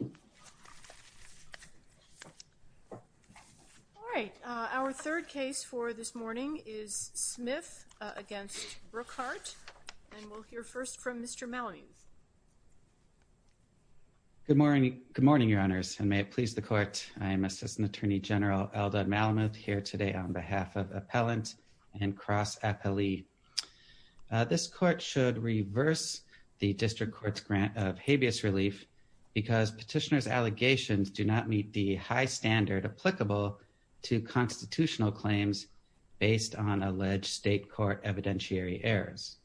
Good morning, Your Honors, and may it please the Court, I am Assistant Attorney General Eldon Malamuth here today on behalf of Appellant and Cross Appellee. This Court should reverse the District Court's grant of habeas relief because petitioner's allegations do not meet the high standard applicable to constitutional claims based on alleged state court evidentiary errors.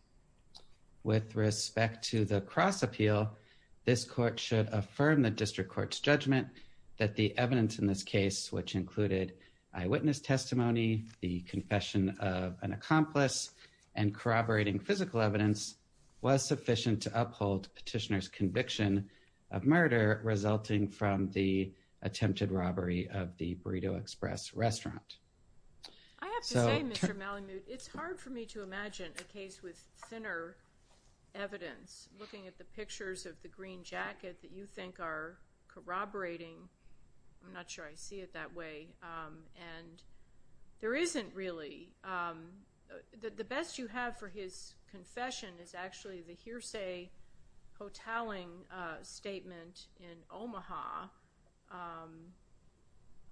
With respect to the cross appeal, this Court should affirm the District Court's judgment that the evidence in this case, which included eyewitness testimony, the confession of an accomplice and corroborating physical evidence was sufficient to uphold petitioner's conviction of murder resulting from the attempted robbery of the Burrito Express restaurant. I have to say, Mr. Malamuth, it's hard for me to imagine a case with thinner evidence. Looking at the pictures of the green jacket that you think are corroborating, I'm not sure I see it that way, and there isn't really. The best you have for his confession is actually the hearsay hotelling statement in Omaha.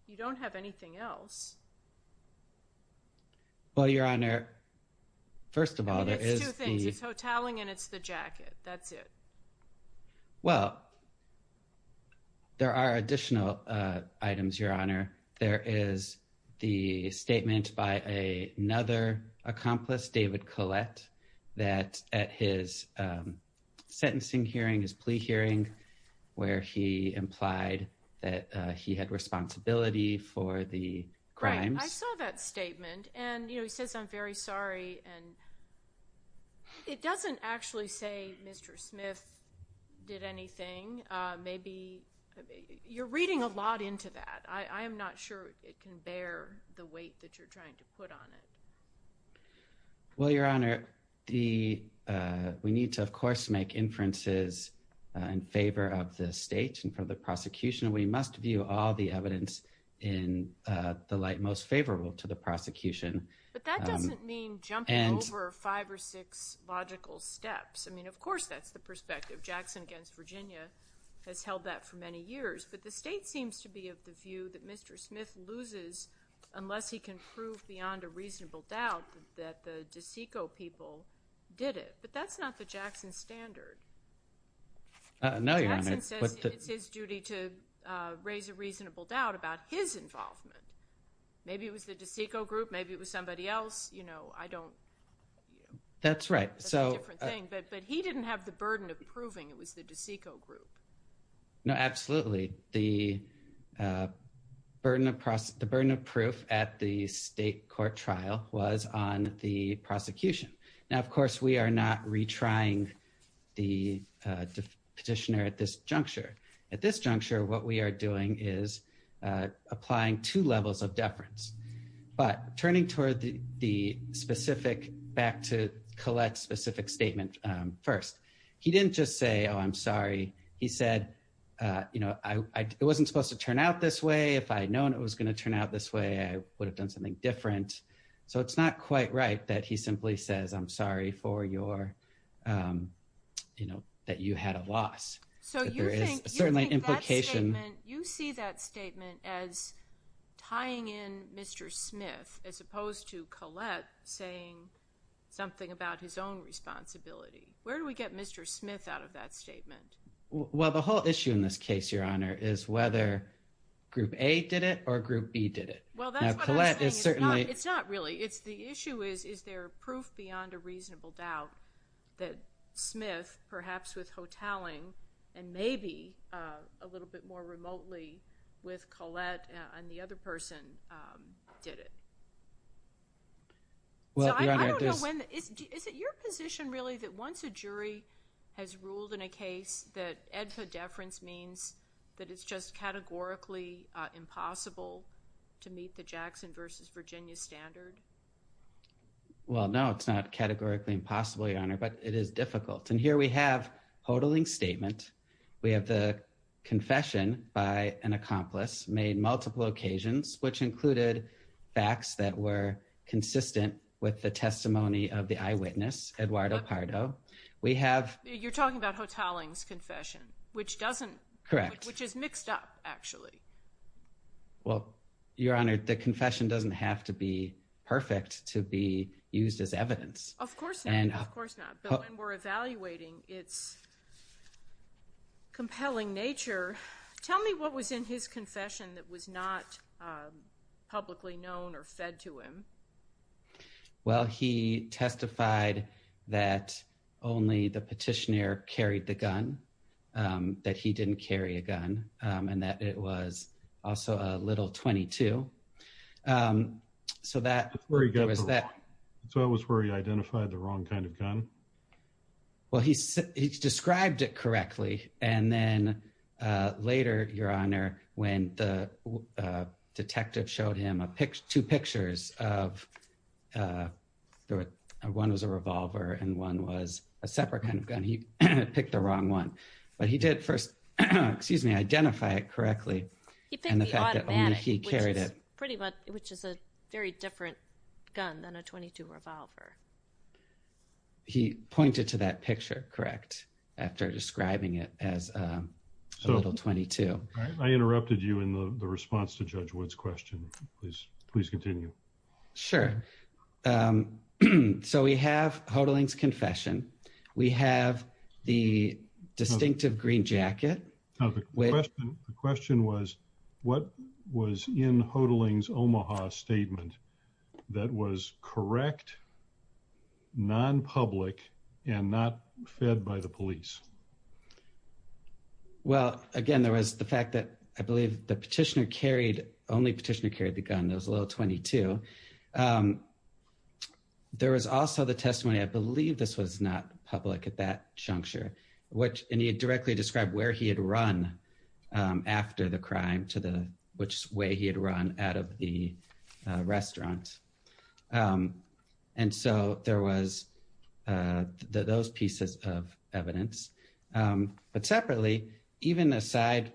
You don't have anything else. Mr. Malamuth Well, Your Honor, first of all, there is... Ms. Brooks It's two things. It's hotelling and it's the jacket. That's it. Mr. Malamuth Well, there are additional items, Your Honor. There is the statement by another accomplice, David Collette, that at his sentencing hearing, his plea hearing, where he implied that he had responsibility for the crimes. Ms. Brooks Right. I saw that statement. And, you know, he says, I'm very sorry. And it doesn't actually say Mr. Smith did anything. Maybe you're reading a lot into that. I am not sure it can bear the weight that you're trying to put on it. Mr. Malamuth Well, Your Honor, we need to, of course, make inferences in favor of the state and for the prosecution. We must view all the evidence in the light most favorable to the prosecution. Ms. Brooks But that doesn't mean jumping over five or six logical steps. I mean, of course, that's the perspective. Jackson against Virginia has held that for many years. But the state seems to be of the view that Mr. Smith loses unless he can prove beyond a reasonable doubt that the DeSeco people did it. But that's not the Jackson standard. Mr. Malamuth No, Your Honor. Ms. Brooks Jackson says it's his duty to raise a reasonable doubt about his involvement. Maybe it was the DeSeco group. Maybe it was somebody else. You know, I don't. Mr. Malamuth That's right. Ms. Brooks That's a different thing. But he didn't have the burden of proving it was the DeSeco group. Mr. Malamuth No, absolutely. The burden of proof at the state court trial was on the prosecution. Now, of course, we are not retrying the petitioner at this juncture. At this juncture, what we are doing is applying two levels of deference, but turning toward the specific back to collect specific statement first. He didn't just say, oh, I'm sorry. He said, you know, it wasn't supposed to turn out this way. If I had known it was going to turn out this way, I would have done something different. So it's not quite right that he simply says, I'm sorry for your, you know, that you had a loss. So there is certainly an implication. Ms. Brooks You see that statement as tying in Mr. Smith as opposed to Collette saying something about his own responsibility. Where do we get Mr. Smith out of that statement? Mr. Malamuth Well, the whole issue in this case, is whether group A did it or group B did it. Ms. Brooks Well, that's what I'm saying. Mr. Malamuth It's not really. It's the issue is, is there proof beyond a reasonable doubt that Smith, perhaps with hoteling and maybe a little bit more remotely with Collette and the other person did it? Ms. Brooks Is it your position really that once a jury has ruled in a case that EDFA deference means that it's just categorically impossible to meet the Jackson versus Virginia standard? Mr. Malamuth Well, no, it's not categorically impossible, Your Honor, but it is difficult. And here we have hoteling statement. We have the confession by an accomplice made multiple occasions, which included facts that were Ms. Brooks You're talking about hoteling's confession, which is mixed up, actually. Mr. Malamuth Well, Your Honor, the confession doesn't have to be perfect to be used as evidence. Ms. Brooks Of course not. Of course not. But when we're evaluating its compelling nature, tell me what was in his confession that was not publicly known or fed to him? Mr. Malamuth Well, he testified that only the petitioner carried the gun, that he didn't carry a gun, and that it was also a little .22. Ms. Brooks So that was where he identified the wrong kind of gun? Mr. Malamuth Well, he described it correctly. And then there was one was a revolver and one was a separate kind of gun. He picked the wrong one. But he did first, excuse me, identify it correctly. Ms. Brooks He picked the automatic, which is a very different gun than a .22 revolver. Mr. Malamuth He pointed to that picture, correct, after describing it as a little .22. Mr. Malamuth I interrupted you in the response to Judge Wood's question. Please continue. Mr. Wood Sure. So we have Hodling's confession. We have the distinctive green jacket. Mr. Malamuth The question was, what was in Hodling's Omaha statement that was correct, non-public, and not fed by the police? Mr. Wood Well, again, there was the fact that I believe the petitioner carried, only petitioner carried the gun. It was a little .22. There was also the testimony, I believe this was not public at that juncture, which, and he directly described where he had run after the crime to the, which way he had run out of the restaurant. And so there was those pieces of evidence. But separately, even aside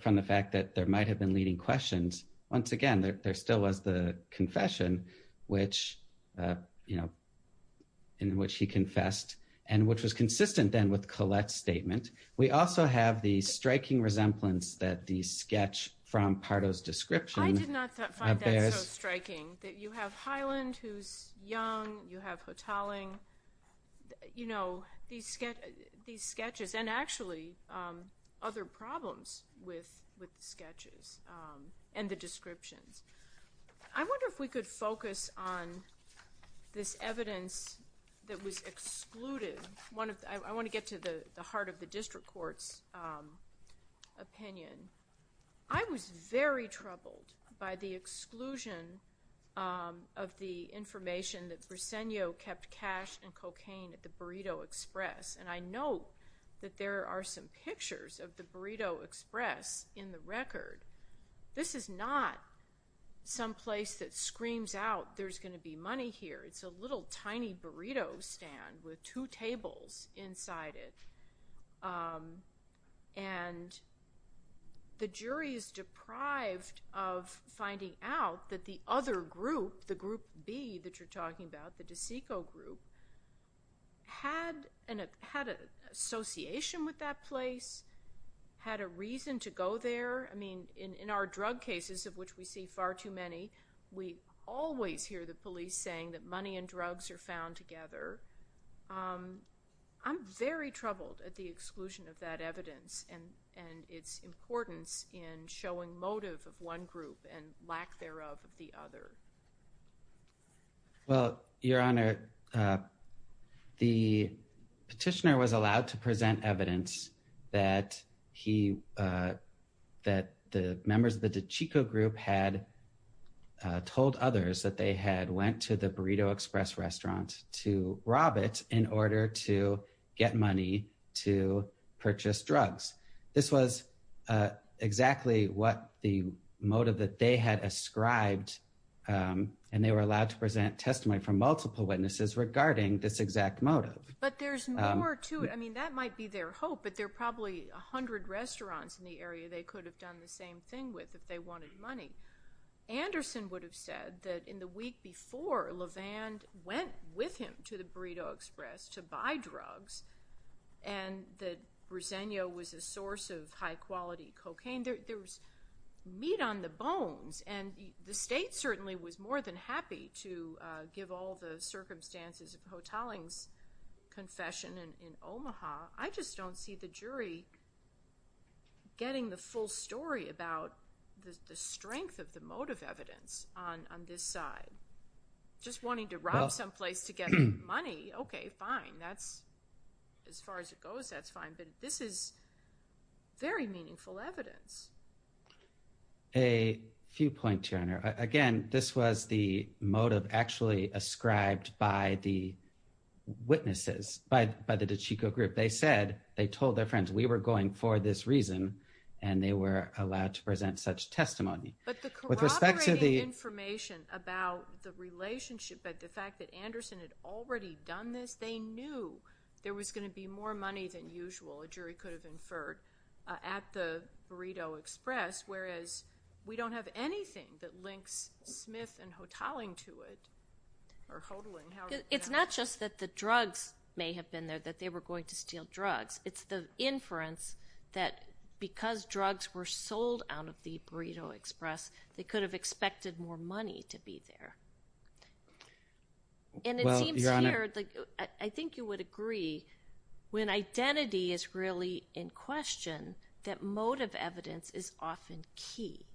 from the might have been leading questions, once again, there still was the confession, which, you know, in which he confessed, and which was consistent then with Collette's statement. We also have the striking resemblance that the sketch from Pardo's description. Ms. Baird I did not find that so striking, that you have Highland, who's young, you have Hodling, you know, these sketches, and actually other problems with the sketches and the descriptions. I wonder if we could focus on this evidence that was excluded. I want to get to the heart of the district court's opinion. I was very troubled by the exclusion of the information that Briseno kept cash and cocaine at the Burrito Express. And I know that there are some pictures of the Burrito Express in the record. This is not some place that screams out, there's going to be money here. It's a little tiny burrito stand with two tables inside it. And the jury is deprived of finding out that the other group, the group B that you're talking about, the DeSico group, had an association with that place, had a reason to go there. I mean, in our drug cases, of which we see far too many, we always hear the police saying that money and drugs are found together. I'm very troubled at the exclusion of that evidence and its importance in showing motive of one group and lack thereof of the other. Well, Your Honor, the petitioner was allowed to present evidence that he, that the members of the DeSico group had told others that they had went to the Burrito Express restaurant to rob it in order to get money to purchase drugs. This was exactly what the motive that they had ascribed, and they were allowed to present testimony from multiple witnesses regarding this exact motive. But there's more to it. I mean, that might be their hope, but there are probably a hundred restaurants in the area they could have done the same thing with if they wanted money. Anderson would have said that in the week before LeVand went with him to the Burrito Express to buy drugs and that Roseno was a source of high-quality cocaine. There was meat on the bones, and the state certainly was more than happy to give all the circumstances of Hotaling's confession in Omaha. I just don't see the jury getting the full story about the strength of the motive evidence on this side. Just wanting to rob someplace to get money, okay, fine. That's, as far as it goes, that's fine. But this is very meaningful evidence. A few points, Your Honor. Again, this was the motive actually ascribed by the witnesses, by the DeSico group. They said, they told their friends, we were going for this reason, and they were allowed to present such testimony. But the corroborating information about the relationship, the fact that Anderson had already done this, they knew there was going to be more money than usual, a jury could have inferred, at the Burrito Express, whereas we don't have anything that links Smith and Hotaling to it. It's not just that the drugs may have been there, that they were going to steal drugs. It's the they could have expected more money to be there. And it seems here, I think you would agree, when identity is really in question, that motive evidence is often key.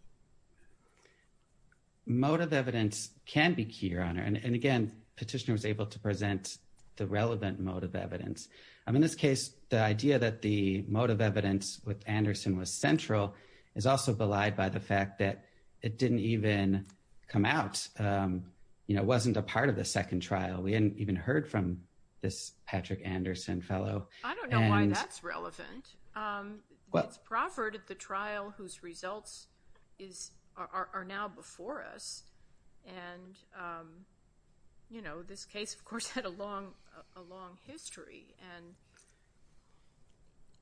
Motive evidence can be key, Your Honor. And again, Petitioner was able to present the relevant motive evidence. In this case, the idea that the motive evidence with Anderson was central is also belied by the fact that it didn't even come out. It wasn't a part of the second trial. We hadn't even heard from this Patrick Anderson fellow. I don't know why that's relevant. It's Proffert at the trial whose results are now before us. And this case, of course, had a long history. And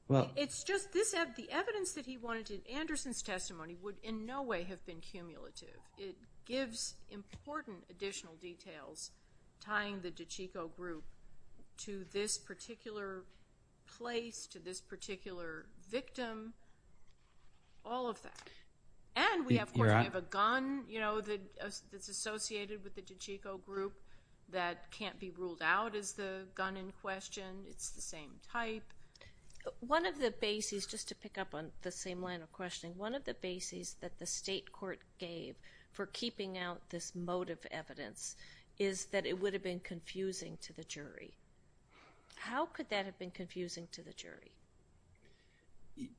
well, it's just the evidence that he wanted in Anderson's testimony would in no way have been cumulative. It gives important additional details tying the DiCicco group to this particular place, to this particular victim, all of that. And we have, of course, we have a gun that's associated with the DiCicco group that can't be ruled out as the gun in question. It's the same type. One of the bases, just to pick up on the same line of questioning, one of the bases that the state court gave for keeping out this motive evidence is that it would have been confusing to the jury. How could that have been confusing to the jury?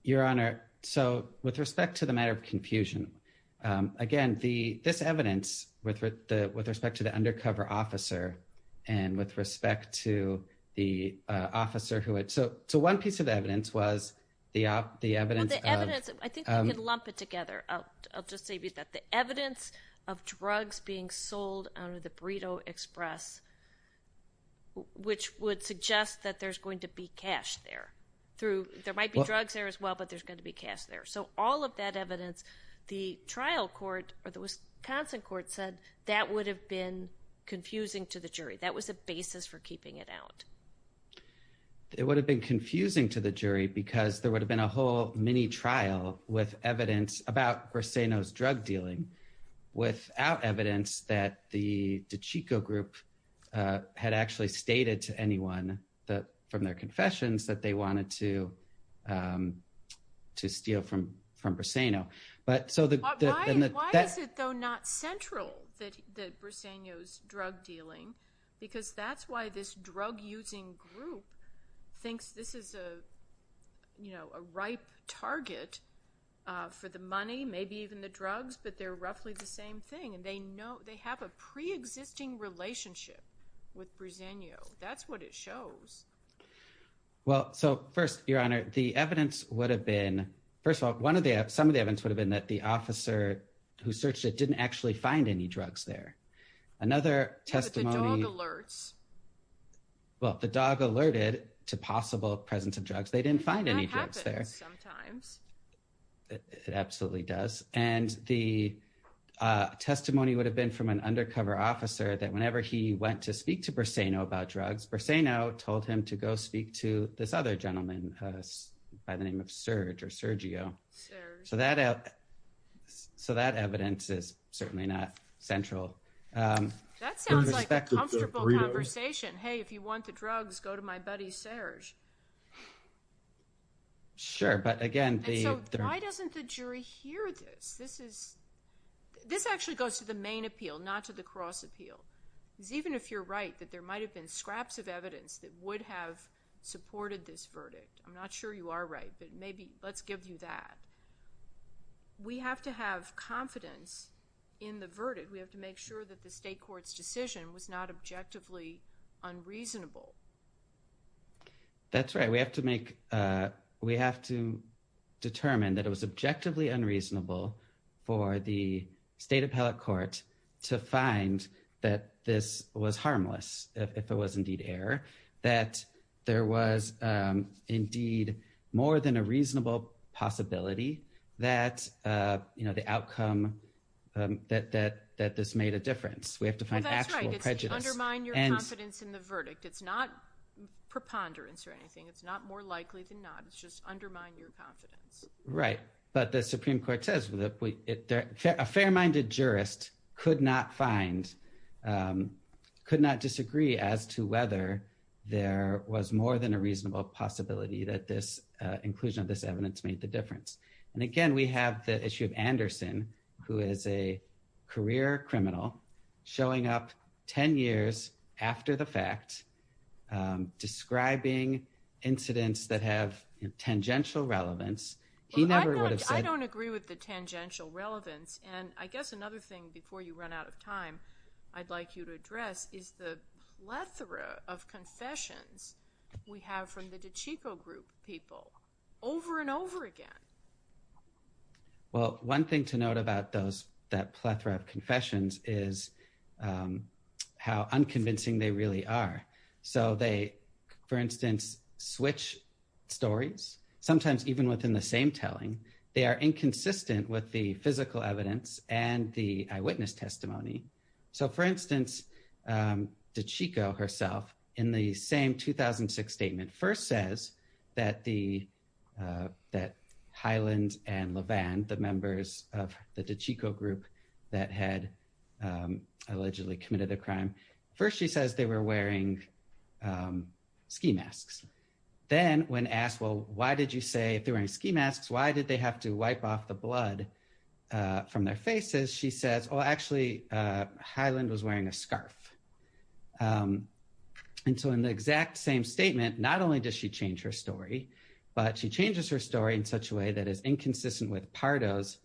Your Honor, so with respect to the matter of confusion, again, this evidence with respect to the undercover officer and with respect to the officer who had, so one piece of evidence was the evidence of- Well, the evidence, I think we can lump it together. I'll just say that the evidence of drugs being sold out of the Burrito Express, which would suggest that there's going to be cash there through, there might be drugs there as well, but there's going to be cash there. So all of that evidence, the trial court or the Wisconsin court said that would have been confusing to the jury. That was a basis for keeping it out. It would have been confusing to the jury because there would have been a whole mini trial with evidence about Briseño's drug dealing without evidence that the DiCicco group had actually stated to anyone from their confessions that they wanted to steal from Briseño. But why is it though not central that Briseño's drug dealing, because that's why this drug using group thinks this is a ripe target for the money, maybe even the drugs, but they're roughly the same thing and they have a preexisting relationship with Briseño. That's what it shows. Well, so first, Your Honor, the evidence would have been, first of all, some of the evidence would have been that the officer who searched it didn't actually find any drugs there. Another testimony, well, the dog alerted to possible presence of drugs. They didn't find any drugs there. It absolutely does. And the testimony would have been from an undercover officer that whenever he went to speak to Briseño about drugs, Briseño told him to go speak to this other gentleman by the name of Serge or Sergio. So that evidence is certainly not central. That sounds like a comfortable conversation. Hey, if you want the drugs, go to my buddy Serge. Sure. But again, the- Even if you're right that there might have been scraps of evidence that would have supported this verdict, I'm not sure you are right, but maybe let's give you that. We have to have confidence in the verdict. We have to make sure that the state court's decision was not objectively unreasonable. That's right. We have to make- we have to determine that it was that this was harmless, if it was indeed error, that there was indeed more than a reasonable possibility that the outcome, that this made a difference. We have to find actual prejudice. Undermine your confidence in the verdict. It's not preponderance or anything. It's not more likely than not. It's just undermine your confidence. Right. But the Supreme Court says that a fair-minded jurist could not find, could not disagree as to whether there was more than a reasonable possibility that this inclusion of this evidence made the difference. And again, we have the issue of Anderson, who is a career criminal showing up 10 years after the fact, describing incidents that have tangential relevance. He never would have said- And I guess another thing before you run out of time, I'd like you to address is the plethora of confessions we have from the DiCicco group people over and over again. Well, one thing to note about those, that plethora of confessions is how unconvincing they really are. So they, for instance, switch stories, sometimes even within the same telling, they are inconsistent with the physical evidence and the eyewitness testimony. So for instance, DiCicco herself, in the same 2006 statement, first says that Highland and Levand, the members of the DiCicco group that had allegedly committed a crime, first she says they were wearing ski masks. Then when asked, well, why did you say if they're wearing ski masks, why did they have to wipe off the blood from their faces? She says, oh, actually, Highland was wearing a scarf. And so in the exact same statement, not only does she change her story, but she changes her story in such a way that is inconsistent with Pardo's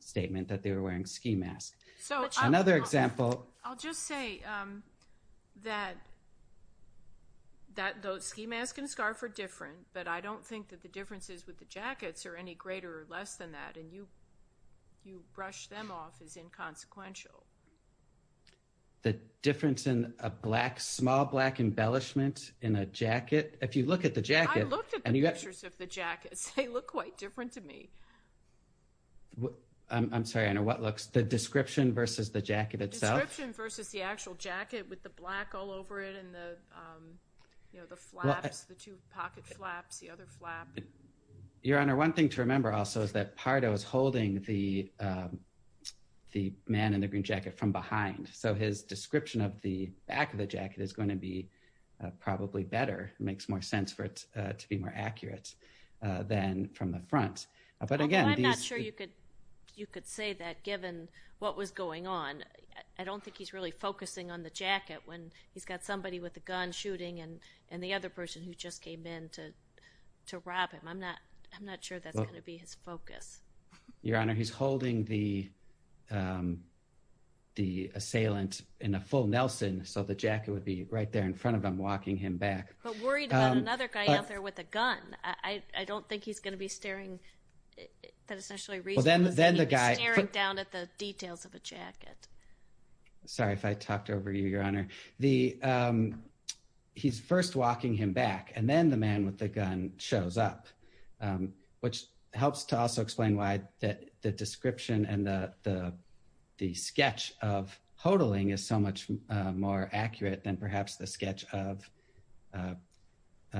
statement that they were wearing ski masks. So another example- That those ski masks and scarf are different, but I don't think that the differences with the jackets are any greater or less than that. And you brush them off as inconsequential. The difference in a black, small black embellishment in a jacket, if you look at the jacket- I looked at the pictures of the jackets, they look quite different to me. I'm sorry, I know what looks, the description versus the jacket itself? Versus the actual jacket with the black all over it and the, you know, the flaps, the two pocket flaps, the other flap. Your Honor, one thing to remember also is that Pardo is holding the man in the green jacket from behind. So his description of the back of the jacket is going to be probably better, makes more sense for it to be more accurate than from the front. But again- You could say that given what was going on. I don't think he's really focusing on the jacket when he's got somebody with a gun shooting and the other person who just came in to rob him. I'm not sure that's going to be his focus. Your Honor, he's holding the assailant in a full Nelson. So the jacket would be right there in front of him, walking him back. But worried about another guy out there with a gun. I don't think he's going to be staring at the details of a jacket. Sorry if I talked over you, Your Honor. He's first walking him back and then the man with the gun shows up, which helps to also explain why the description and the sketch of Hodling is so much more accurate than perhaps the sketch of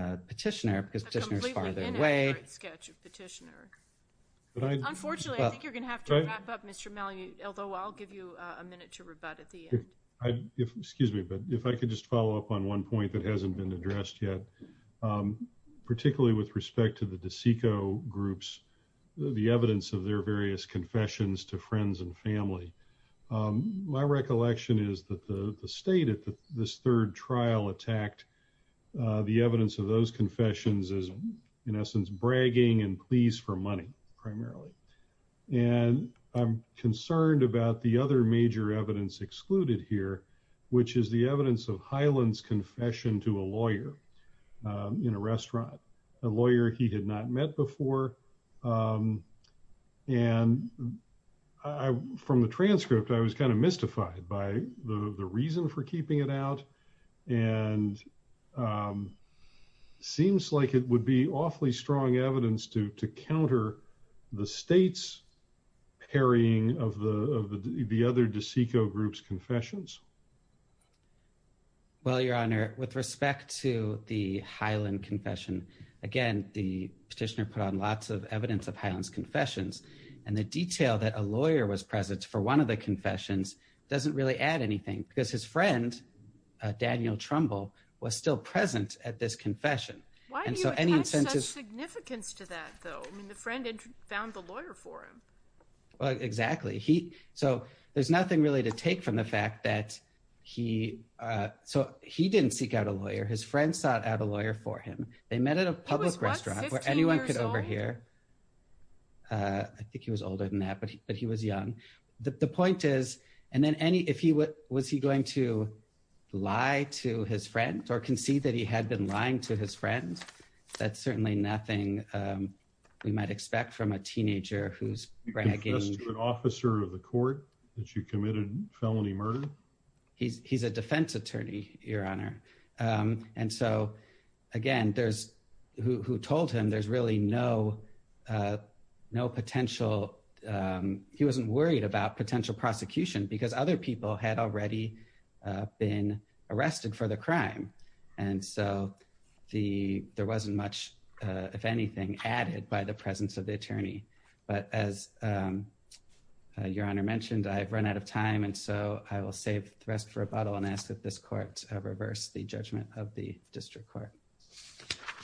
Petitioner because Petitioner is farther away. Sketch of Petitioner. Unfortunately, I think you're going to have to wrap up, Mr. Malliot, although I'll give you a minute to rebut at the end. Excuse me, but if I could just follow up on one point that hasn't been addressed yet, particularly with respect to the DeSico groups, the evidence of their various confessions to friends and family. My recollection is that the state at this third trial attacked the evidence of those confessions as, in essence, bragging and pleas for money, primarily. And I'm concerned about the other major evidence excluded here, which is the evidence of Hyland's confession to a lawyer in a restaurant, a lawyer he had not met before. And from the transcript, I was kind of mystified by the reason for keeping it out and seems like it would be awfully strong evidence to counter the state's parrying of the other DeSico groups' confessions. Well, Your Honor, with respect to the Hyland confession, again, the Petitioner put on lots of evidence of Hyland's confessions and the detail that a lawyer was present for one of the confessions doesn't really add anything because his friend, Daniel Trumbull, was still present at this confession. Why do you attach such significance to that, though? I mean, the friend found the lawyer for him. Well, exactly. So there's nothing really to take from the fact that he didn't seek out a lawyer. His friend sought out a lawyer for him. They met at a public restaurant where anyone could overhear. He was, what, 15 years old? I think he was older than that, but he was young. The point is, and then any, if he, was he going to lie to his friend or concede that he had been lying to his friend? That's certainly nothing we might expect from a teenager who's bragging. Did he confess to an officer of the court that you committed felony murder? He's a defense attorney, Your Honor. And so, again, there's, who told him there's really no potential, he wasn't worried about potential prosecution because other people had already been arrested for the crime. And so there wasn't much, if anything, added by the presence of the attorney. But as Your Honor mentioned, I've run out of time, and so I will save the rest for a bottle and ask that this court reverse the judgment of the district court.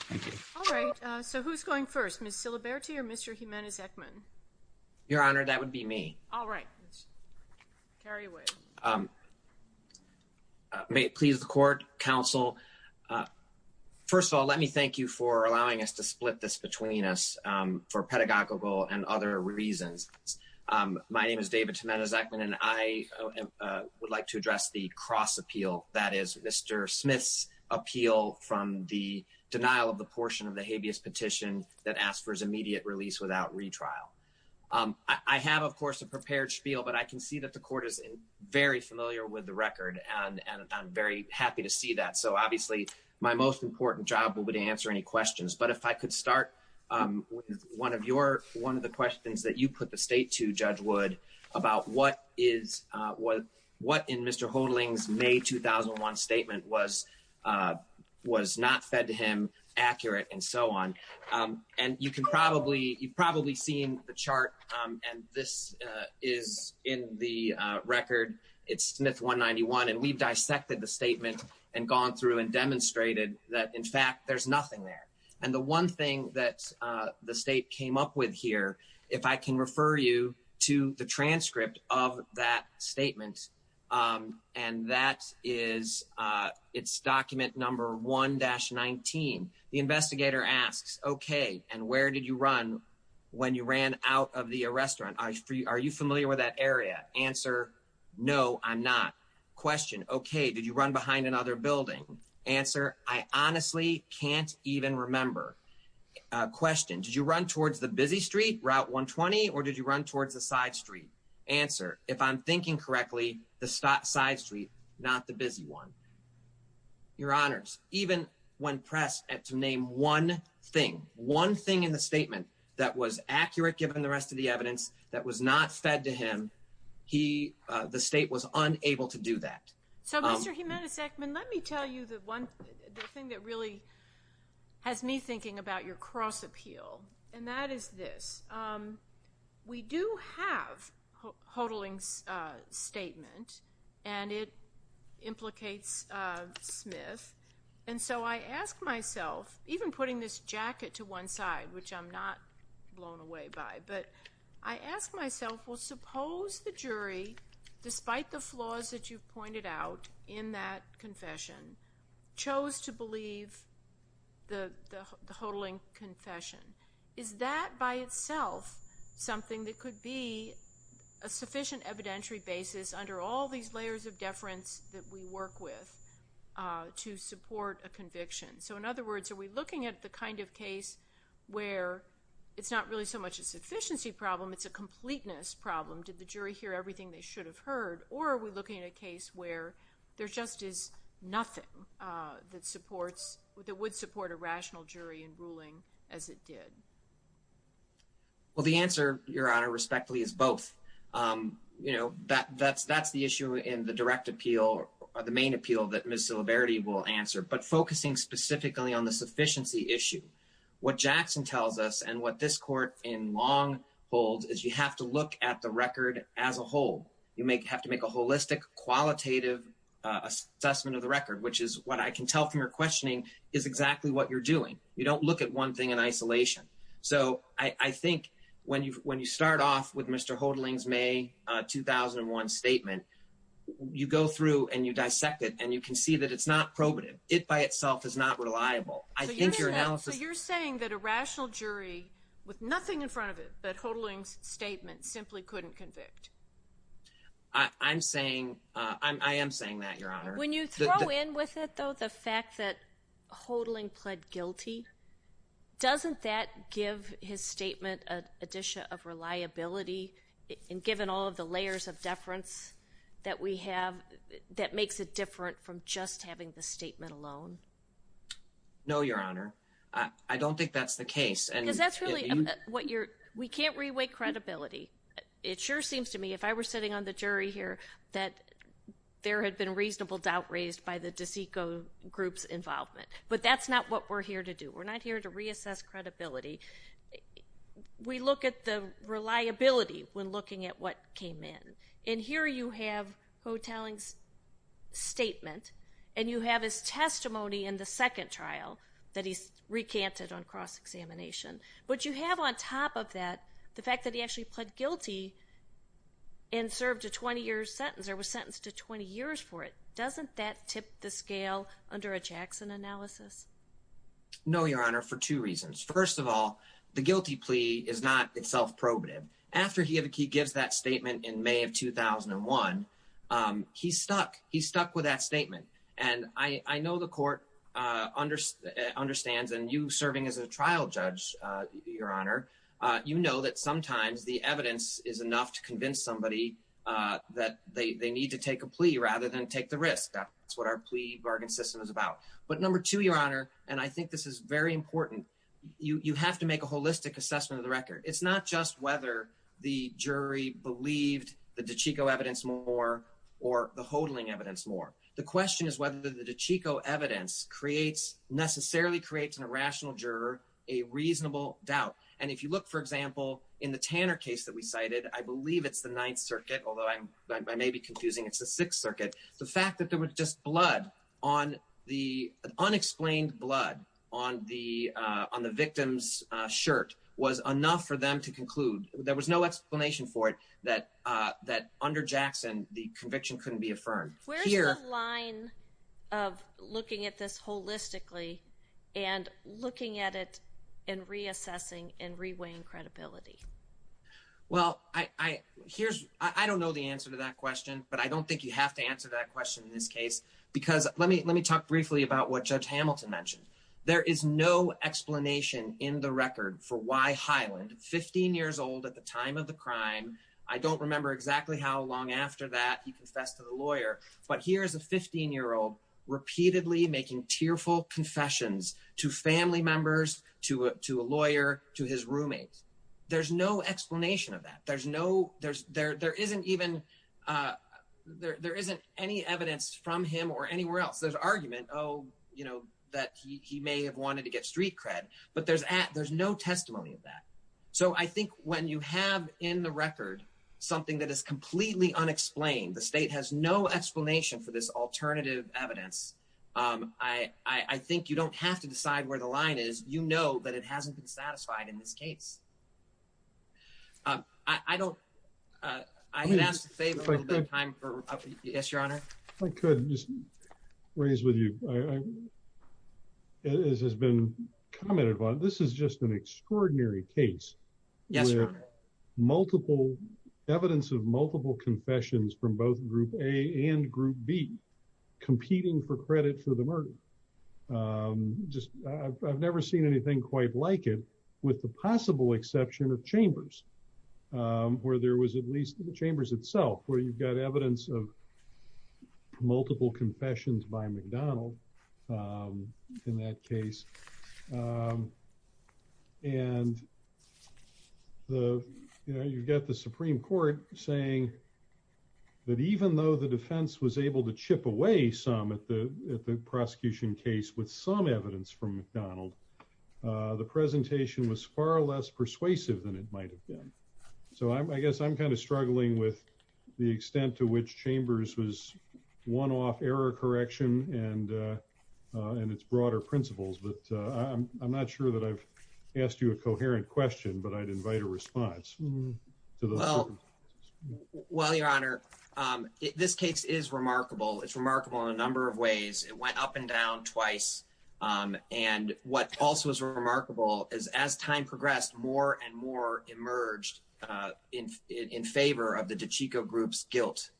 Thank you. All right, so who's going first? Ms. Siliberti or Mr. Jimenez-Ekman? Your Honor, that would be me. All right, let's carry with. May it please the court, counsel, first of all, let me thank you for allowing us to split this between us for pedagogical and other reasons. My name is David Jimenez-Ekman, and I would like to address the cross appeal, that is, Mr. Smith's appeal from the denial of the portion of the habeas petition that asks for his immediate release without retrial. I have, of course, a prepared spiel, but I can see that the court is very familiar with the record, and I'm very happy to see that. So obviously, my most important job will be to answer any questions. But if I could start with one of the questions that you put the state to, Judge Wood, about what in Mr. Hodling's May 2001 statement was not fed to him, accurate, and so on. And you've probably seen the chart, and this is in the record. It's Smith 191, and we've dissected the statement and gone through and demonstrated that, in fact, there's nothing there. And the one thing that the state came up with here, if I can refer you to the transcript of that statement, and that is, it's document number 1-19. The investigator asks, okay, and where did you run when you ran out of the restaurant? Are you familiar with that area? Answer, no, I'm not. Question, okay, did you run behind another building? Answer, I honestly can't even remember. Question, did you run towards the busy street, Route 120, or did you run towards the side street? Answer, if I'm thinking correctly, the side street, not the busy one. Your Honors, even when pressed to name one thing, one thing in the statement that was accurate, given the rest of the evidence, that was not fed to him, the state was unable to do that. So, Mr. Jimenez-Ekman, let me tell you the one thing that really has me thinking about your cross-appeal, and that is this. We do have Hodling's statement, and it implicates Smith, and so I ask myself, even putting this jacket to one side, which I'm not blown away by, but I ask myself, well, suppose the jury, despite the flaws that you've pointed out in that confession, chose to believe the Hodling confession. Is that by itself something that could be a sufficient evidentiary basis under all these layers of deference that we work with to support a conviction? So, in other words, are we looking at the kind of case where it's not really so much a sufficiency problem, it's a completeness problem? Did the jury hear everything they should have heard, or are we looking at a case where there just is nothing that supports, that would support a rational jury in ruling as it did? Well, the answer, Your Honor, respectfully, is both. You know, that's the issue in the direct appeal, or the main appeal that Ms. Silverity will answer, but focusing specifically on the sufficiency issue. What Jackson tells us, and what this court in long holds, is you have to look at the record as a whole. You have to make a holistic, qualitative assessment of the record, which is what I can tell from your questioning, is exactly what you're doing. You don't look at one thing in isolation. So, I think when you start off with Mr. Hodling's May 2001 statement, you go through and you dissect it, and you can see that it's not probative. It by itself is not reliable. I think your analysis... So, you're saying that a rational jury, with nothing in front of it, that Hodling's statement simply couldn't convict? I'm saying, I am saying that, Your Honor. When you throw in with it, though, the fact that reliability, and given all of the layers of deference that we have, that makes it different from just having the statement alone? No, Your Honor. I don't think that's the case. Because that's really what you're... We can't re-weigh credibility. It sure seems to me, if I were sitting on the jury here, that there had been reasonable doubt raised by the DeSico group's involvement. But that's not what we're here to do. We're not here to reassess credibility. We look at the reliability when looking at what came in. And here you have Hodling's statement, and you have his testimony in the second trial that he recanted on cross-examination. But you have on top of that, the fact that he actually pled guilty and served a 20-year sentence, or was sentenced to 20 years for it. Doesn't that tip the scale under a Jackson analysis? No, Your Honor, for two reasons. First of all, the guilty plea is not itself probative. After he gives that statement in May of 2001, he's stuck. He's stuck with that statement. And I know the court understands, and you serving as a trial judge, Your Honor, you know that sometimes the evidence is enough to convince somebody that they need to take a plea rather than take the risk. That's what our plea bargain system is about. But number two, Your Honor, and I think this is very important, you have to make a holistic assessment of the record. It's not just whether the jury believed the DeSico evidence more or the Hodling evidence more. The question is whether the DeSico evidence necessarily creates in a rational juror a reasonable doubt. And if you look, for example, in the Tanner case that we cited, I believe it's the Ninth Circuit, although I may be confusing, it's the Sixth Circuit, the fact that there was just blood on the unexplained blood on the victim's shirt was enough for them to conclude. There was no explanation for it that under Jackson, the conviction couldn't be affirmed. Where's the line of looking at this holistically and looking at it and reassessing and reweighing credibility? Well, I don't know the answer to that question, but I don't think you have to answer that question in this case, because let me talk briefly about what Judge Hamilton mentioned. There is no explanation in the record for why Hyland, 15 years old at the time of the crime, I don't remember exactly how long after that he confessed to the lawyer, but here is a 15-year-old repeatedly making tearful confessions to family members, to a lawyer, to his roommates. There's no explanation of that. There isn't any evidence from him or anywhere else. There's argument, that he may have wanted to get street cred, but there's no testimony of that. So I think when you have in the record something that is completely unexplained, the state has no explanation for this alternative evidence. I think you don't have to decide where the line is. You know that it hasn't been satisfied in this case. I don't, I'm going to ask to save a little bit of time for, yes, your honor. If I could just raise with you, as has been commented upon, this is just an extraordinary case. Yes, your honor. Multiple evidence of multiple confessions from both group A and group B competing for credit for the murder. I've never seen anything quite like it, with the possible exception of Chambers, where there was at least the Chambers itself, where you've got evidence of multiple confessions by McDonald in that case. And the, you know, you've got the Supreme Court saying that even though the defense was able to chip away some at the prosecution case with some evidence from McDonald, the presentation was far less persuasive than it might have been. So I guess I'm kind of struggling with the extent to which Chambers was one-off error correction and its broader principles. But I'm not sure that I've asked you a coherent question, but I'd invite a response. Well, your honor, this case is remarkable. It's remarkable in a number of ways. It went up and down twice. And what also is remarkable is as time progressed, more and more emerged in favor of the DiCicco group's guilt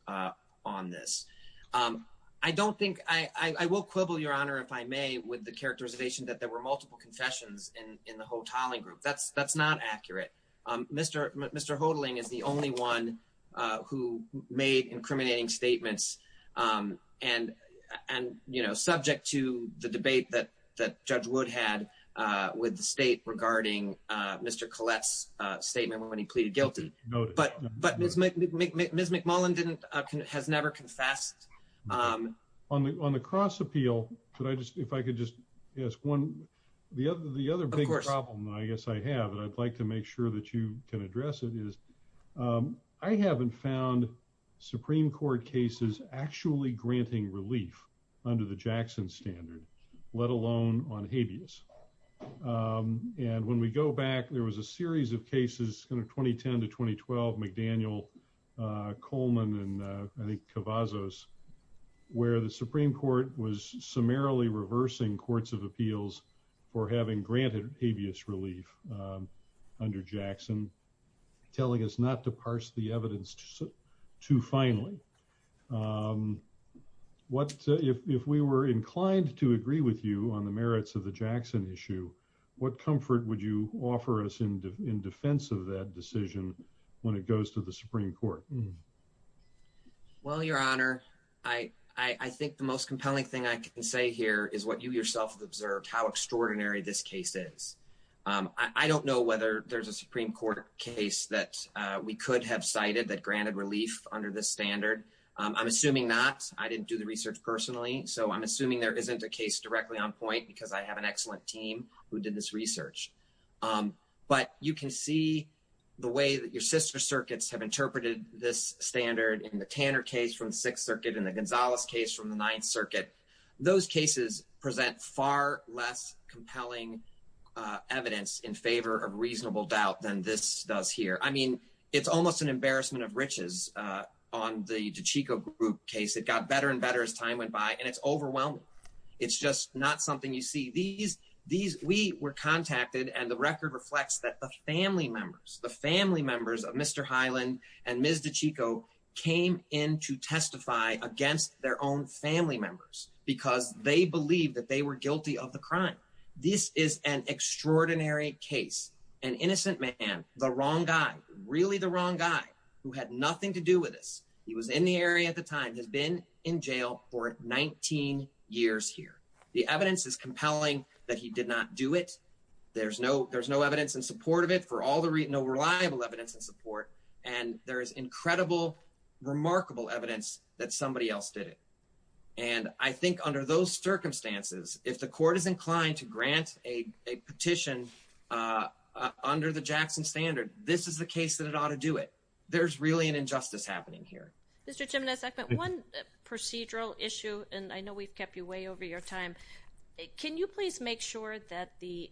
on this. I don't think, I will quibble, your honor, if I may, with the characterization that there were multiple confessions in the Hotelling group. That's not accurate. Mr. Hotelling is the only one who made incriminating statements and, you know, subject to the debate that Judge Wood had with the state regarding Mr. Collette's statement when he pleaded guilty. But Ms. McMullen has never confessed. On the cross appeal, if I could just ask one, the other big problem, I guess I have, and I'd like to make sure that you can address it, is I haven't found Supreme Court cases actually granting relief under the Jackson standard, let alone on habeas. And when we go back, there was a series of cases in 2010 to 2012, McDaniel, Coleman, and I think Cavazos, where the Supreme Court was summarily reversing courts of appeals for having granted habeas relief under Jackson, telling us not to parse the evidence too finely. What, if we were inclined to agree with you on the merits of the Jackson issue, what comfort would you offer us in defense of that decision when it goes to the Supreme Court? Well, your honor, I think the most compelling thing I can say here is what you yourself observed, how extraordinary this case is. I don't know whether there's a Supreme Court case that we could have cited that granted relief under this standard. I'm assuming not. I didn't do the research personally, so I'm assuming there isn't a case directly on point, because I have an excellent team who did this research. But you can see the way that your sister circuits have interpreted this standard in the Tanner case from the Sixth Circuit and the Gonzalez case from the Ninth Circuit. Those cases present far less compelling evidence in favor of reasonable doubt than this does here. I mean, it's almost an embarrassment of riches on the DeChico group case. It got better and better as time went by, and it's overwhelming. It's just not something you see. We were contacted, and the record reflects that the family members, the family members of Mr. Hyland and Ms. DeChico came in to testify against their own family members because they believed that they were guilty of the crime. This is an extraordinary case. An innocent man, the wrong guy, really the wrong guy who had nothing to do with this. He was in the area at the time, has been in jail for 19 years here. The evidence is compelling that he did not do it. There's no evidence in support of it for all the reason, no reliable evidence in support. And there is incredible, remarkable evidence that somebody else did it. And I think under those circumstances, if the court is inclined to grant a petition under the Jackson standard, this is the case that it ought to do it. There's really an injustice happening here. Mr. Jimenez-Eckman, one procedural issue, and I know we've kept you way over your time. Can you please make sure that the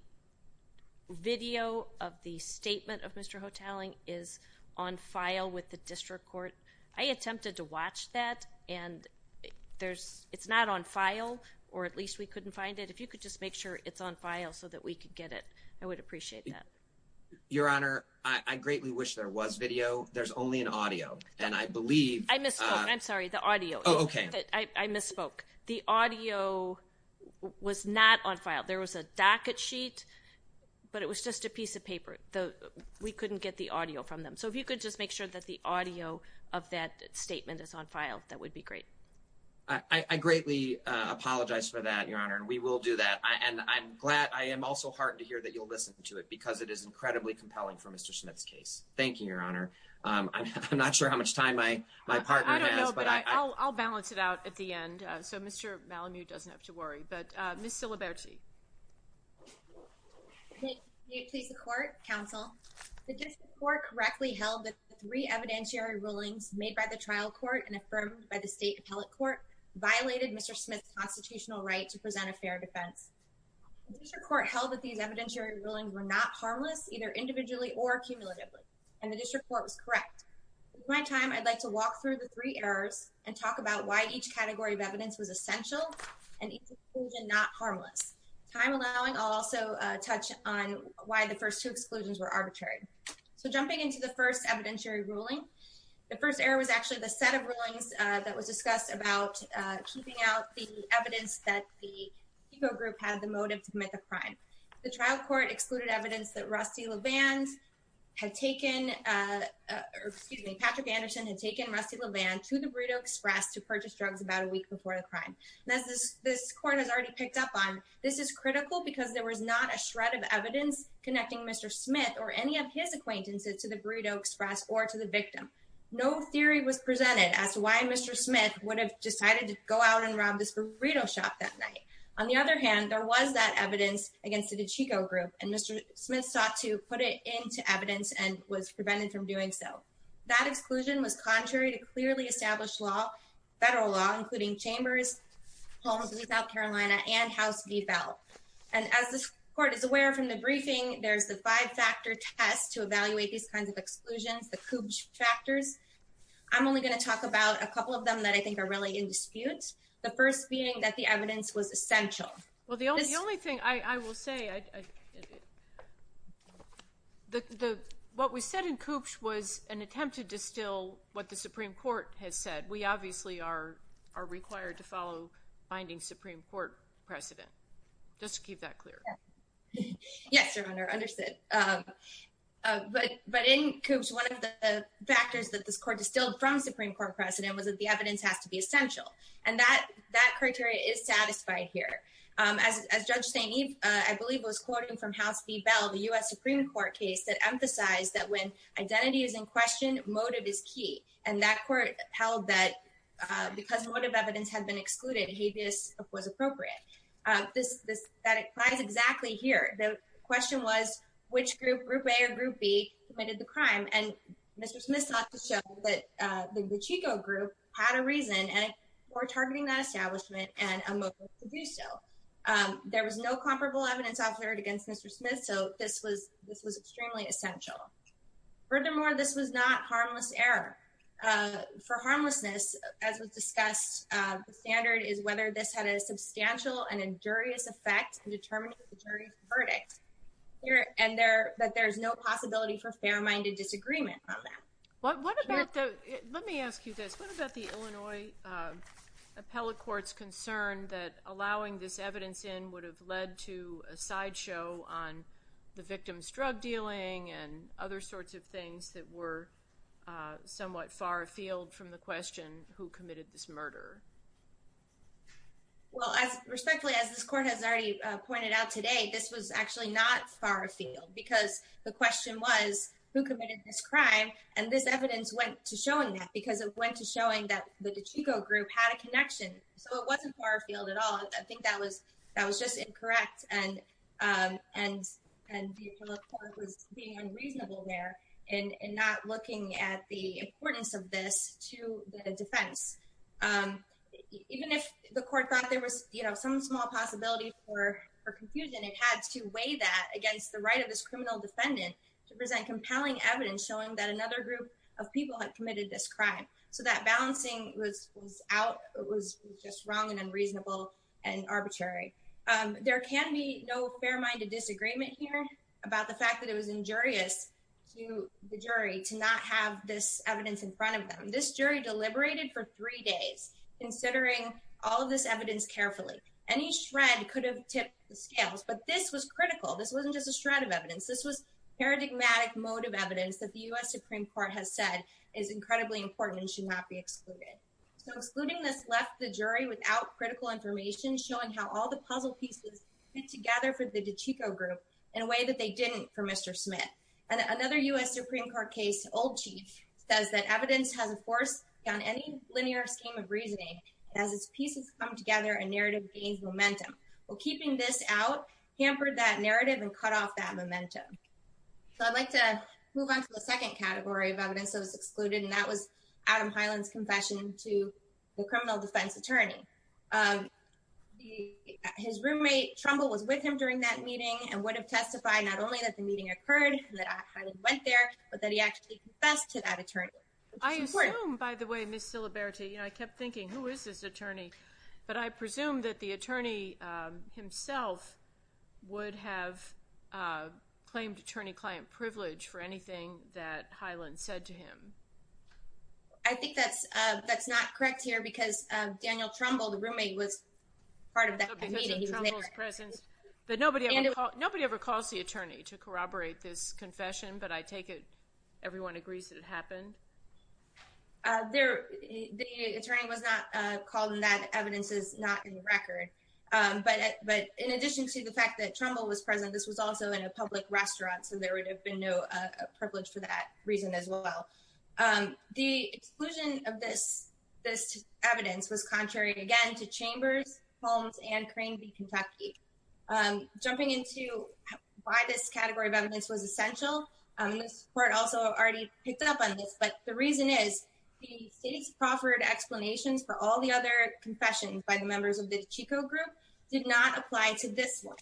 video of the statement of Mr. Hotelling is on file with the district court? I attempted to watch that, and it's not on file, or at least we couldn't find it. If you could just make sure it's on file so that we could get it, I would appreciate that. Your Honor, I greatly wish there was video. There's only an audio, and I believe- I misspoke. I'm sorry, the audio. Oh, okay. I misspoke. The audio was not on file. There was a docket sheet, but it was just a piece of paper. We couldn't get the audio from them. So if you could just make sure that the audio of that statement is on file, that would be great. I greatly apologize for that, Your Honor, and we will do that. And I'm glad- I am also heartened to hear that you'll listen to it because it is incredibly compelling for Mr. Smith's case. Thank you, Your Honor. I'm not sure how much time my partner has, but- I don't know, but I'll balance it out at the end so Mr. Malamud doesn't have to worry. But the three evidentiary rulings made by the trial court and affirmed by the state appellate court violated Mr. Smith's constitutional right to present a fair defense. The district court held that these evidentiary rulings were not harmless, either individually or cumulatively, and the district court was correct. With my time, I'd like to walk through the three errors and talk about why each category of evidence was essential and each exclusion not harmless. Time allowing, I'll also touch on why the first two exclusions were arbitrary. So jumping into the first evidentiary ruling, the first error was actually the set of rulings that was discussed about keeping out the evidence that the HECO group had the motive to commit the crime. The trial court excluded evidence that Rusty LeVand had taken- or excuse me, Patrick Anderson had taken Rusty LeVand to the Burrito Express to purchase drugs about a week before the crime. And as this court has already picked up on, this is critical because there was not a shred of evidence connecting Mr. Smith or any of his acquaintances to the Burrito Express or to the victim. No theory was presented as to why Mr. Smith would have decided to go out and rob this burrito shop that night. On the other hand, there was that evidence against the HECO group, and Mr. Smith sought to put it into evidence and was prevented from doing so. That exclusion was contrary to clearly established law, federal law, including chambers, homes in South Carolina, and House v. Bell. And as this court is aware from the briefing, there's the five-factor test to evaluate these kinds of exclusions, the Koopsh factors. I'm only going to talk about a couple of them that I think are really in dispute. The first being that the evidence was essential. Well, the only thing I will say, what we said in Koopsh was an attempt to distill what the Supreme Court has said. We obviously are precedent. Just to keep that clear. Yes, Your Honor. Understood. But in Koopsh, one of the factors that this court distilled from Supreme Court precedent was that the evidence has to be essential. And that criteria is satisfied here. As Judge St. Eve, I believe, was quoting from House v. Bell, the U.S. Supreme Court case that emphasized that when identity is in question, motive is key. And that court held that because motive evidence had been excluded, habeas was appropriate. That applies exactly here. The question was which group, Group A or Group B, committed the crime. And Mr. Smith sought to show that the Chico group had a reason for targeting that establishment and a motive to do so. There was no comparable evidence offered against Mr. Smith, so this was extremely essential. Furthermore, this was not harmless error. For harmlessness, as was discussed, the standard is whether this had a substantial and injurious effect in determining the jury's verdict. And that there's no possibility for fair-minded disagreement on that. Let me ask you this. What about the Illinois Appellate Court's concern that allowing this evidence in would have led to a sideshow on the victim's drug dealing and other sorts of things that were somewhat far afield from the question, who committed this murder? Well, respectfully, as this court has already pointed out today, this was actually not far afield because the question was, who committed this crime? And this evidence went to showing that because it went to showing that the Chico group had a connection. So it wasn't far afield at all. I think that was just incorrect and the appellate court was being unreasonable there in not looking at the importance of this to the defense. Even if the court thought there was some small possibility for confusion, it had to weigh that against the right of this criminal defendant to present compelling evidence showing that another group of people had committed this and arbitrary. There can be no fair-minded disagreement here about the fact that it was injurious to the jury to not have this evidence in front of them. This jury deliberated for three days considering all of this evidence carefully. Any shred could have tipped the scales, but this was critical. This wasn't just a shred of evidence. This was paradigmatic mode of evidence that the U.S. Supreme Court has said is incredibly important and should not be excluded. So excluding this left the jury without critical information showing how all the puzzle pieces fit together for the Chico group in a way that they didn't for Mr. Smith. And another U.S. Supreme Court case, Old Chief, says that evidence has a force on any linear scheme of reasoning. As its pieces come together, a narrative gains momentum. Well, keeping this out hampered that narrative and cut off that momentum. So I'd like to move on to the second category of evidence that was excluded, and that was Adam Hyland's confession to the criminal defense attorney. His roommate, Trumbull, was with him during that meeting and would have testified not only that the meeting occurred, that Hyland went there, but that he actually confessed to that attorney. I assume, by the way, Ms. Siliberte, you know, I kept thinking, who is this attorney? But I presume that the attorney himself would have claimed attorney-client privilege for anything that Hyland said to him. I think that's not correct here because Daniel Trumbull, the roommate, was part of that meeting. But nobody ever calls the attorney to corroborate this confession, but I take it everyone agrees that it happened? The attorney was not called, and that evidence is not in the record. But in addition to the fact that Trumbull was present, this was also in a public restaurant, so there would have been no privilege for that reason as well. The exclusion of this evidence was contrary, again, to Chambers, Holmes, and Crane v. Kentucky. Jumping into why this category of evidence was essential, Ms. Port also already picked up on this, but the reason is the state's proffered explanations for all the other confessions by the members of the Chico group did not apply to this one.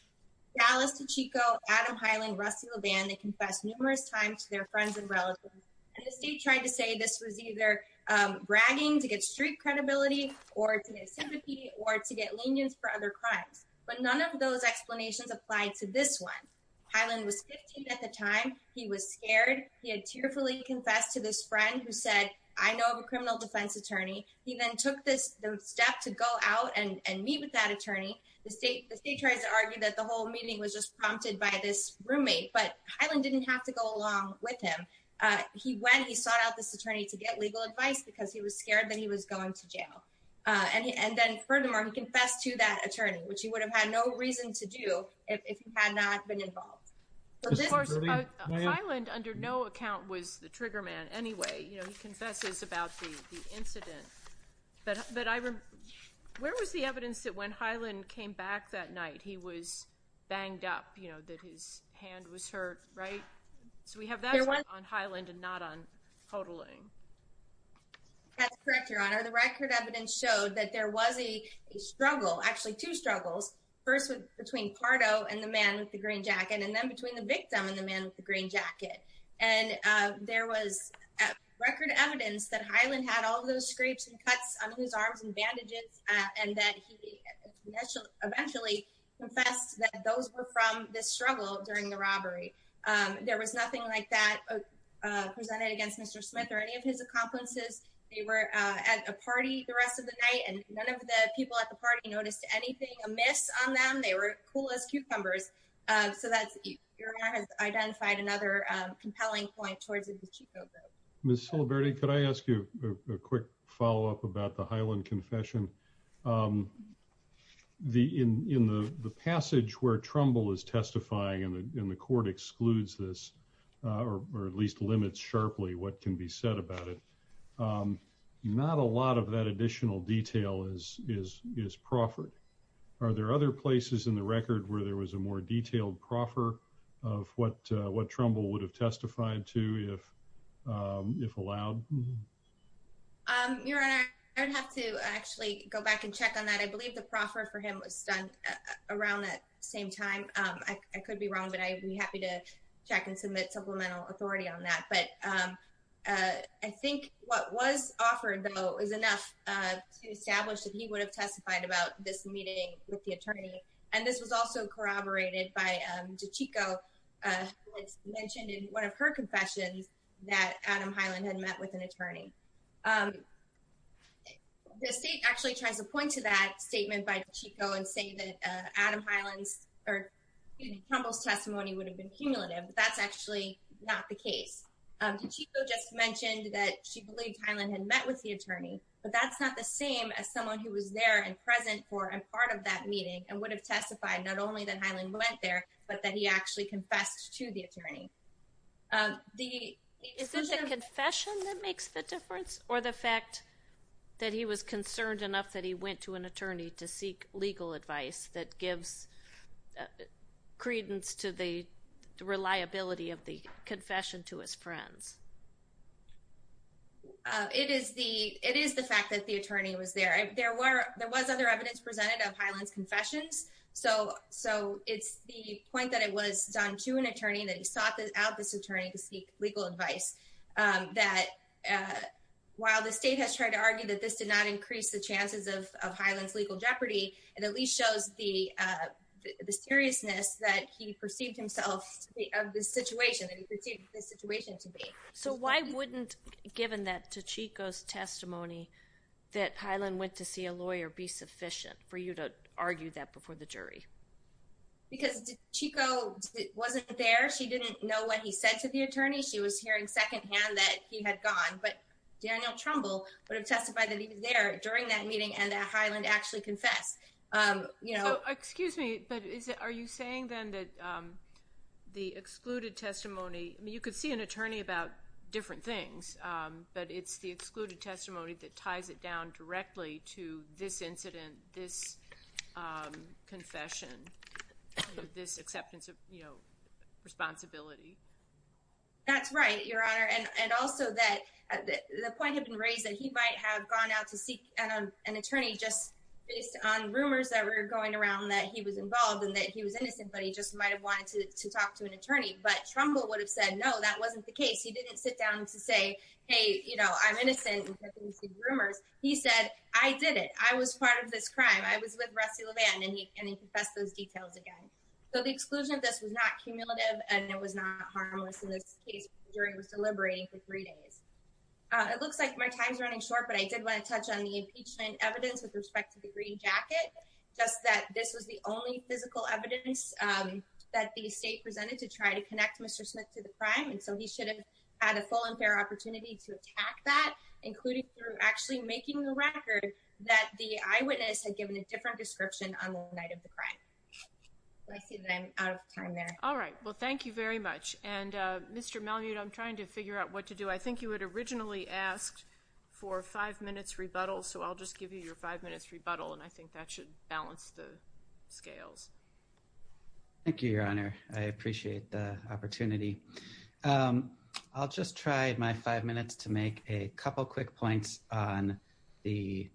Dallas to Chico, Adam Hyland, Rusty LeVan, they confessed numerous times to their friends and relatives, and the state tried to say this was either bragging to get street credibility or to get sympathy or to get lenience for other crimes. But none of those explanations applied to this one. Hyland was 15 at the time. He was scared. He had tearfully confessed to this friend who said, I know of a criminal defense attorney. He then took the step to go out and meet with that attorney. The state tried to argue that the whole meeting was just prompted by this roommate, but Hyland didn't have to go along with him. He went. He sought out this attorney to get legal advice because he was scared that he was going to jail. And then, furthermore, he confessed to that attorney, which he would have had no reason to do if he had not been involved. Hyland, under no account, was the trigger man anyway. He confesses about the incident. But where was the evidence that when Hyland came back that night, he was banged up, you know, that his hand was hurt, right? So we have that on Hyland and not on Hodling. That's correct, Your Honor. The record evidence showed that there was a struggle, actually two struggles, first between Pardo and the man with the green jacket, and then between the victim and the man with the green jacket. And there was record evidence that Hyland had all those scrapes and cuts on his arms and bandages, and that he eventually confessed that those were from this struggle during the robbery. There was nothing like that presented against Mr. Smith or any of his accomplices. They were at a party the rest of the night, and none of the people at the party noticed anything amiss on them. They were cool as cucumbers. So Your Honor has identified another compelling point towards the Chico vote. Ms. Silberte, could I ask you a quick follow-up about the Hyland confession? In the passage where Trumbull is testifying, and the court excludes this, or at least limits sharply what can be said about it, not a lot of that additional detail is proffered. Are there other places in the record where there was a more detailed proffer of what Trumbull would have testified to if allowed? Your Honor, I'd have to actually go back and check on that. I believe the proffer for him was done around that same time. I could be wrong, but I'd be happy to check and submit supplemental authority on that. But I think what was offered, though, is enough to establish that he would have testified about this meeting with the attorney. And this was also corroborated by Chico, who mentioned in one of her confessions that Adam Hyland had met with an attorney. The state actually tries to point to that statement by Chico and say that Trumbull's testimony would have been cumulative, but that's actually not the case. Chico just mentioned that she believed Hyland had met with the attorney, but that's not the same as someone who was there and present for and part of that meeting and would have testified not only that Hyland went there, but that he actually confessed to the attorney. Is this a confession that makes the difference, or the fact that he was concerned enough that he went to an attorney to seek legal advice that gives credence to the reliability of the confession to his friends? It is the fact that the attorney was there. There was other evidence presented of Hyland's confessions, so it's the point that it was done to an attorney, that he sought out this attorney to seek legal advice, that while the state has tried to argue that this did not increase the chances of Hyland's legal jeopardy, it at least shows the seriousness that he perceived himself of this situation, that he perceived this situation to be. So why wouldn't, given that to Chico's testimony, that Hyland went to see a lawyer be sufficient for you to argue that before the jury? Because Chico wasn't there. She didn't know what he said to the attorney. She was hearing second hand that he had gone, but Daniel Trumbull would have testified that he was there during that meeting and that Hyland actually confessed. Excuse me, but are you saying then that the excluded testimony, I mean, you could see an attorney about different things, but it's the excluded testimony that ties it down directly to this incident, this confession, this acceptance of responsibility? That's right, Your Honor, and also that the point had been raised that he might have gone out to seek an attorney just based on rumors that were going around that he was involved and that he was innocent, but he just might have wanted to talk to an attorney. But Trumbull would have said, no, that wasn't the case. He didn't sit down to say, hey, you know, I'm innocent, rumors. He said, I did it. I was part of this crime. I was with Rusty Levan, and he confessed those details again. So the exclusion of this was not cumulative and it was not harmless in this case. The jury was deliberating for three days. It looks like my time's running short, but I did want to touch on the impeachment evidence with respect to the green jacket, just that this was the only physical evidence that the state presented to try to connect Mr. Smith to the crime. And so he should have had a full and fair opportunity to attack that, including through actually making the record that the eyewitness had given a different description on the night of the crime. I see that I'm out of time there. All right. Well, thank you very much. And Mr. Malmute, I'm trying to figure out what to do. I think you had originally asked for five minutes rebuttal, so I'll just give you your five minutes rebuttal, and I think that should balance the scales. Thank you, Your Honor. I appreciate the opportunity. I'll just try my five minutes to make a couple quick points on the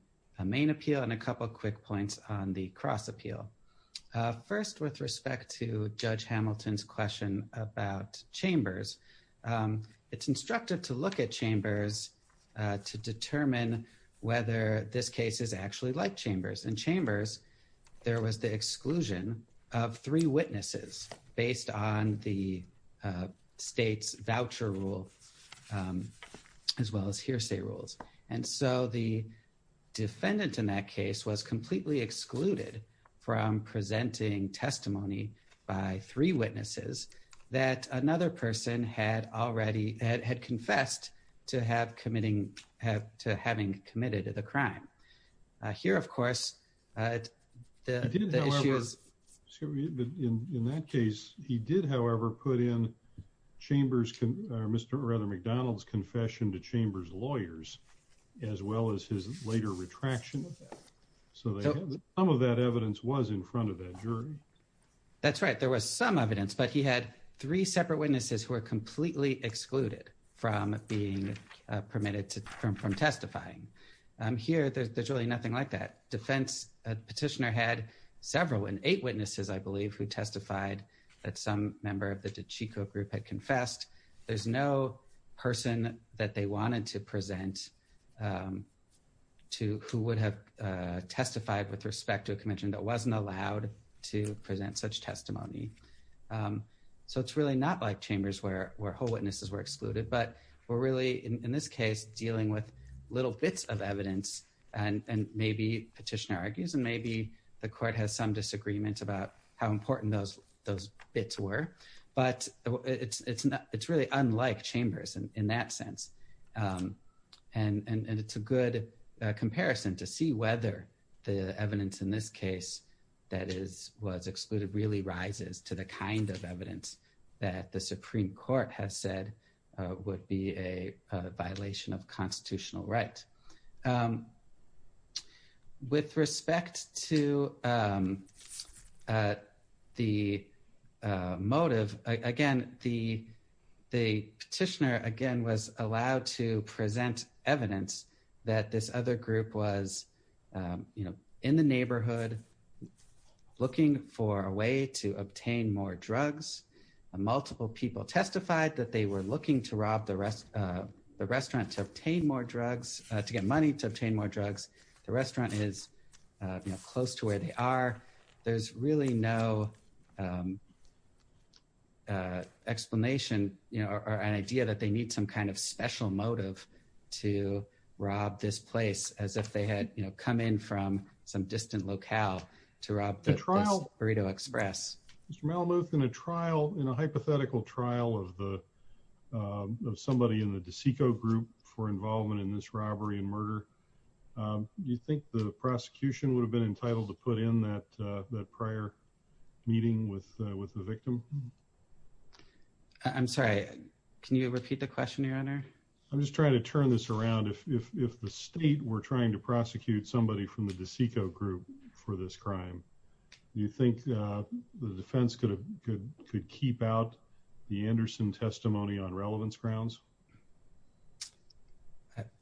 main appeal and a couple quick points on the cross appeal. First, with respect to Judge Hamilton's question about Chambers, it's instructive to look at Chambers. In Chambers, there was the exclusion of three witnesses based on the state's voucher rule as well as hearsay rules. And so the defendant in that case was completely excluded from presenting testimony by three witnesses that another person had confessed to having committed the crime. Here, of course, the issue is... In that case, he did, however, put in Chambers' confession to Chambers' lawyers as well as his later retraction. So some of that evidence was in front of that jury. That's right. There was some evidence, but he had three separate witnesses who were completely excluded from being permitted from testifying. Here, there's really nothing like that. The petitioner had several, and eight witnesses, I believe, who testified that some member of the DiCicco group had confessed. There's no person that they wanted to present who would have testified with respect to a conviction that wasn't allowed to present such testimony. So it's really not like Chambers where whole of evidence, and maybe, petitioner argues, and maybe the court has some disagreement about how important those bits were, but it's really unlike Chambers in that sense. And it's a good comparison to see whether the evidence in this case that was excluded really rises to the kind of evidence that the Supreme Court has said would be a violation of constitutional right. With respect to the motive, again, the petitioner, again, was allowed to present evidence that this other group was in the neighborhood looking for a way to obtain more drugs. Multiple people testified that they were looking to rob the restaurant to obtain more drugs, to get money to obtain more drugs. The restaurant is, you know, close to where they are. There's really no explanation, you know, or an idea that they need some kind of special motive to rob this place as if they had, you know, come in from some distant locale to rob the Burrito Express. Mr. Malamuth, in a trial, in a hypothetical trial of the of somebody in the DeSico group for involvement in this robbery and murder, do you think the prosecution would have been entitled to put in that prior meeting with the victim? I'm sorry, can you repeat the question, your honor? I'm just trying to turn this around. If the state were trying to prosecute somebody from the DeSico group for this crime, do you think the defense could keep out the Anderson testimony on relevance grounds?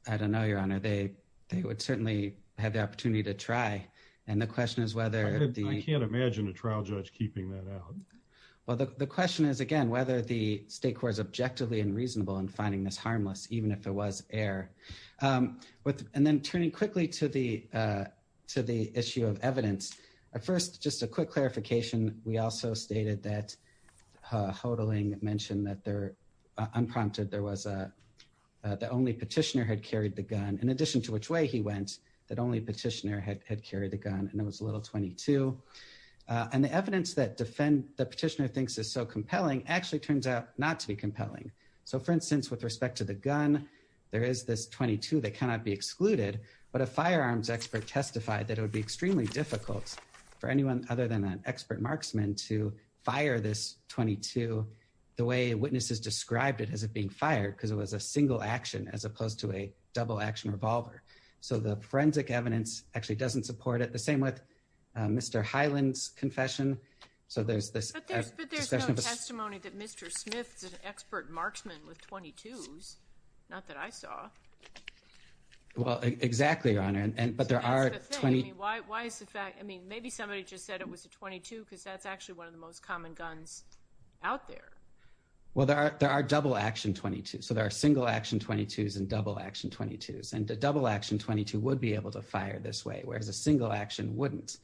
I don't know, your honor. They would certainly have the opportunity to try. And the question is whether... I can't imagine a trial judge keeping that out. Well, the question is, again, whether the state court is objectively and reasonable in finding this harmless, even if it was air. And then turning quickly to the issue of evidence. At first, just a quick clarification. We also stated that Hodling mentioned that they're unprompted. There was a... the only petitioner had carried the gun, in addition to which way he went, that only petitioner had carried the gun, and it was a little 22. And the evidence that defend... the petitioner thinks is so compelling actually turns out not to be compelling. So, for instance, with respect to the gun, there is this 22 that cannot be excluded. But a firearms expert testified that it would be extremely difficult for anyone other than an expert marksman to fire this 22 the way witnesses described it as it being fired, because it was a single action as opposed to a double action revolver. So, the forensic evidence actually doesn't support it. The same with Mr. Hyland's confession. So, there's this... But there's no testimony that Mr. Smith is an expert marksman with 22s. Not that I saw. Well, exactly, Your Honor. And... but there are 20... Why is the fact... I mean, maybe somebody just said it was a 22, because that's actually one of the most common guns out there. Well, there are... there are double action 22s. So, there are single action 22s and double action 22s. And a double action 22 would be able to fire this way, whereas a single action wouldn't.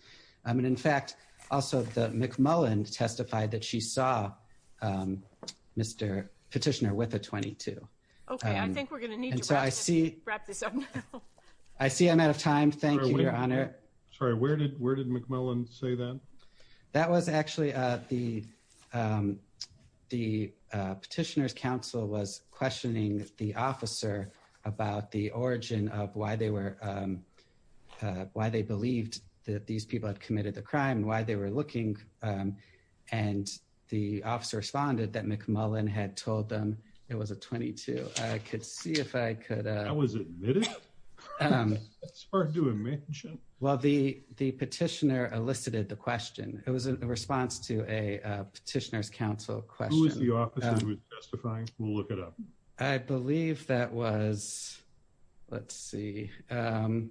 I mean, in fact, also the McMullen testified that she saw Mr. Petitioner with a 22. Okay, I think we're going to need to wrap this up now. I see I'm out of time. Thank you, Your Honor. Sorry, where did... where did McMullen say that? That was actually the... the Petitioner's counsel was questioning the officer about the origin of why they were... why they believed that these people had committed the crime and why they were looking. And the officer responded that McMullen had told them it was a 22. I could see if I could... That was admitted? It's hard to imagine. Well, the Petitioner elicited the question. It was a response to a Petitioner's counsel question. Who was the officer who was testifying? We'll look it up. I believe that was... let's see. I'm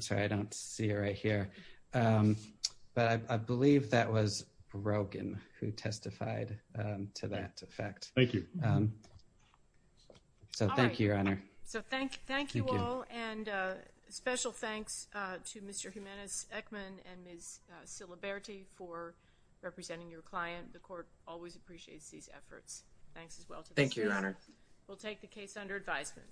sorry, I don't see it right here. But I believe that was Rogan who testified to that effect. Thank you. So thank you, Your Honor. So thank you all and special thanks to Mr. Jimenez-Eckman and Ms. Siliberti for representing your client. The Court always appreciates these efforts. Thanks as well to the students. Thank you, Your Honor. We'll take the case under advisement.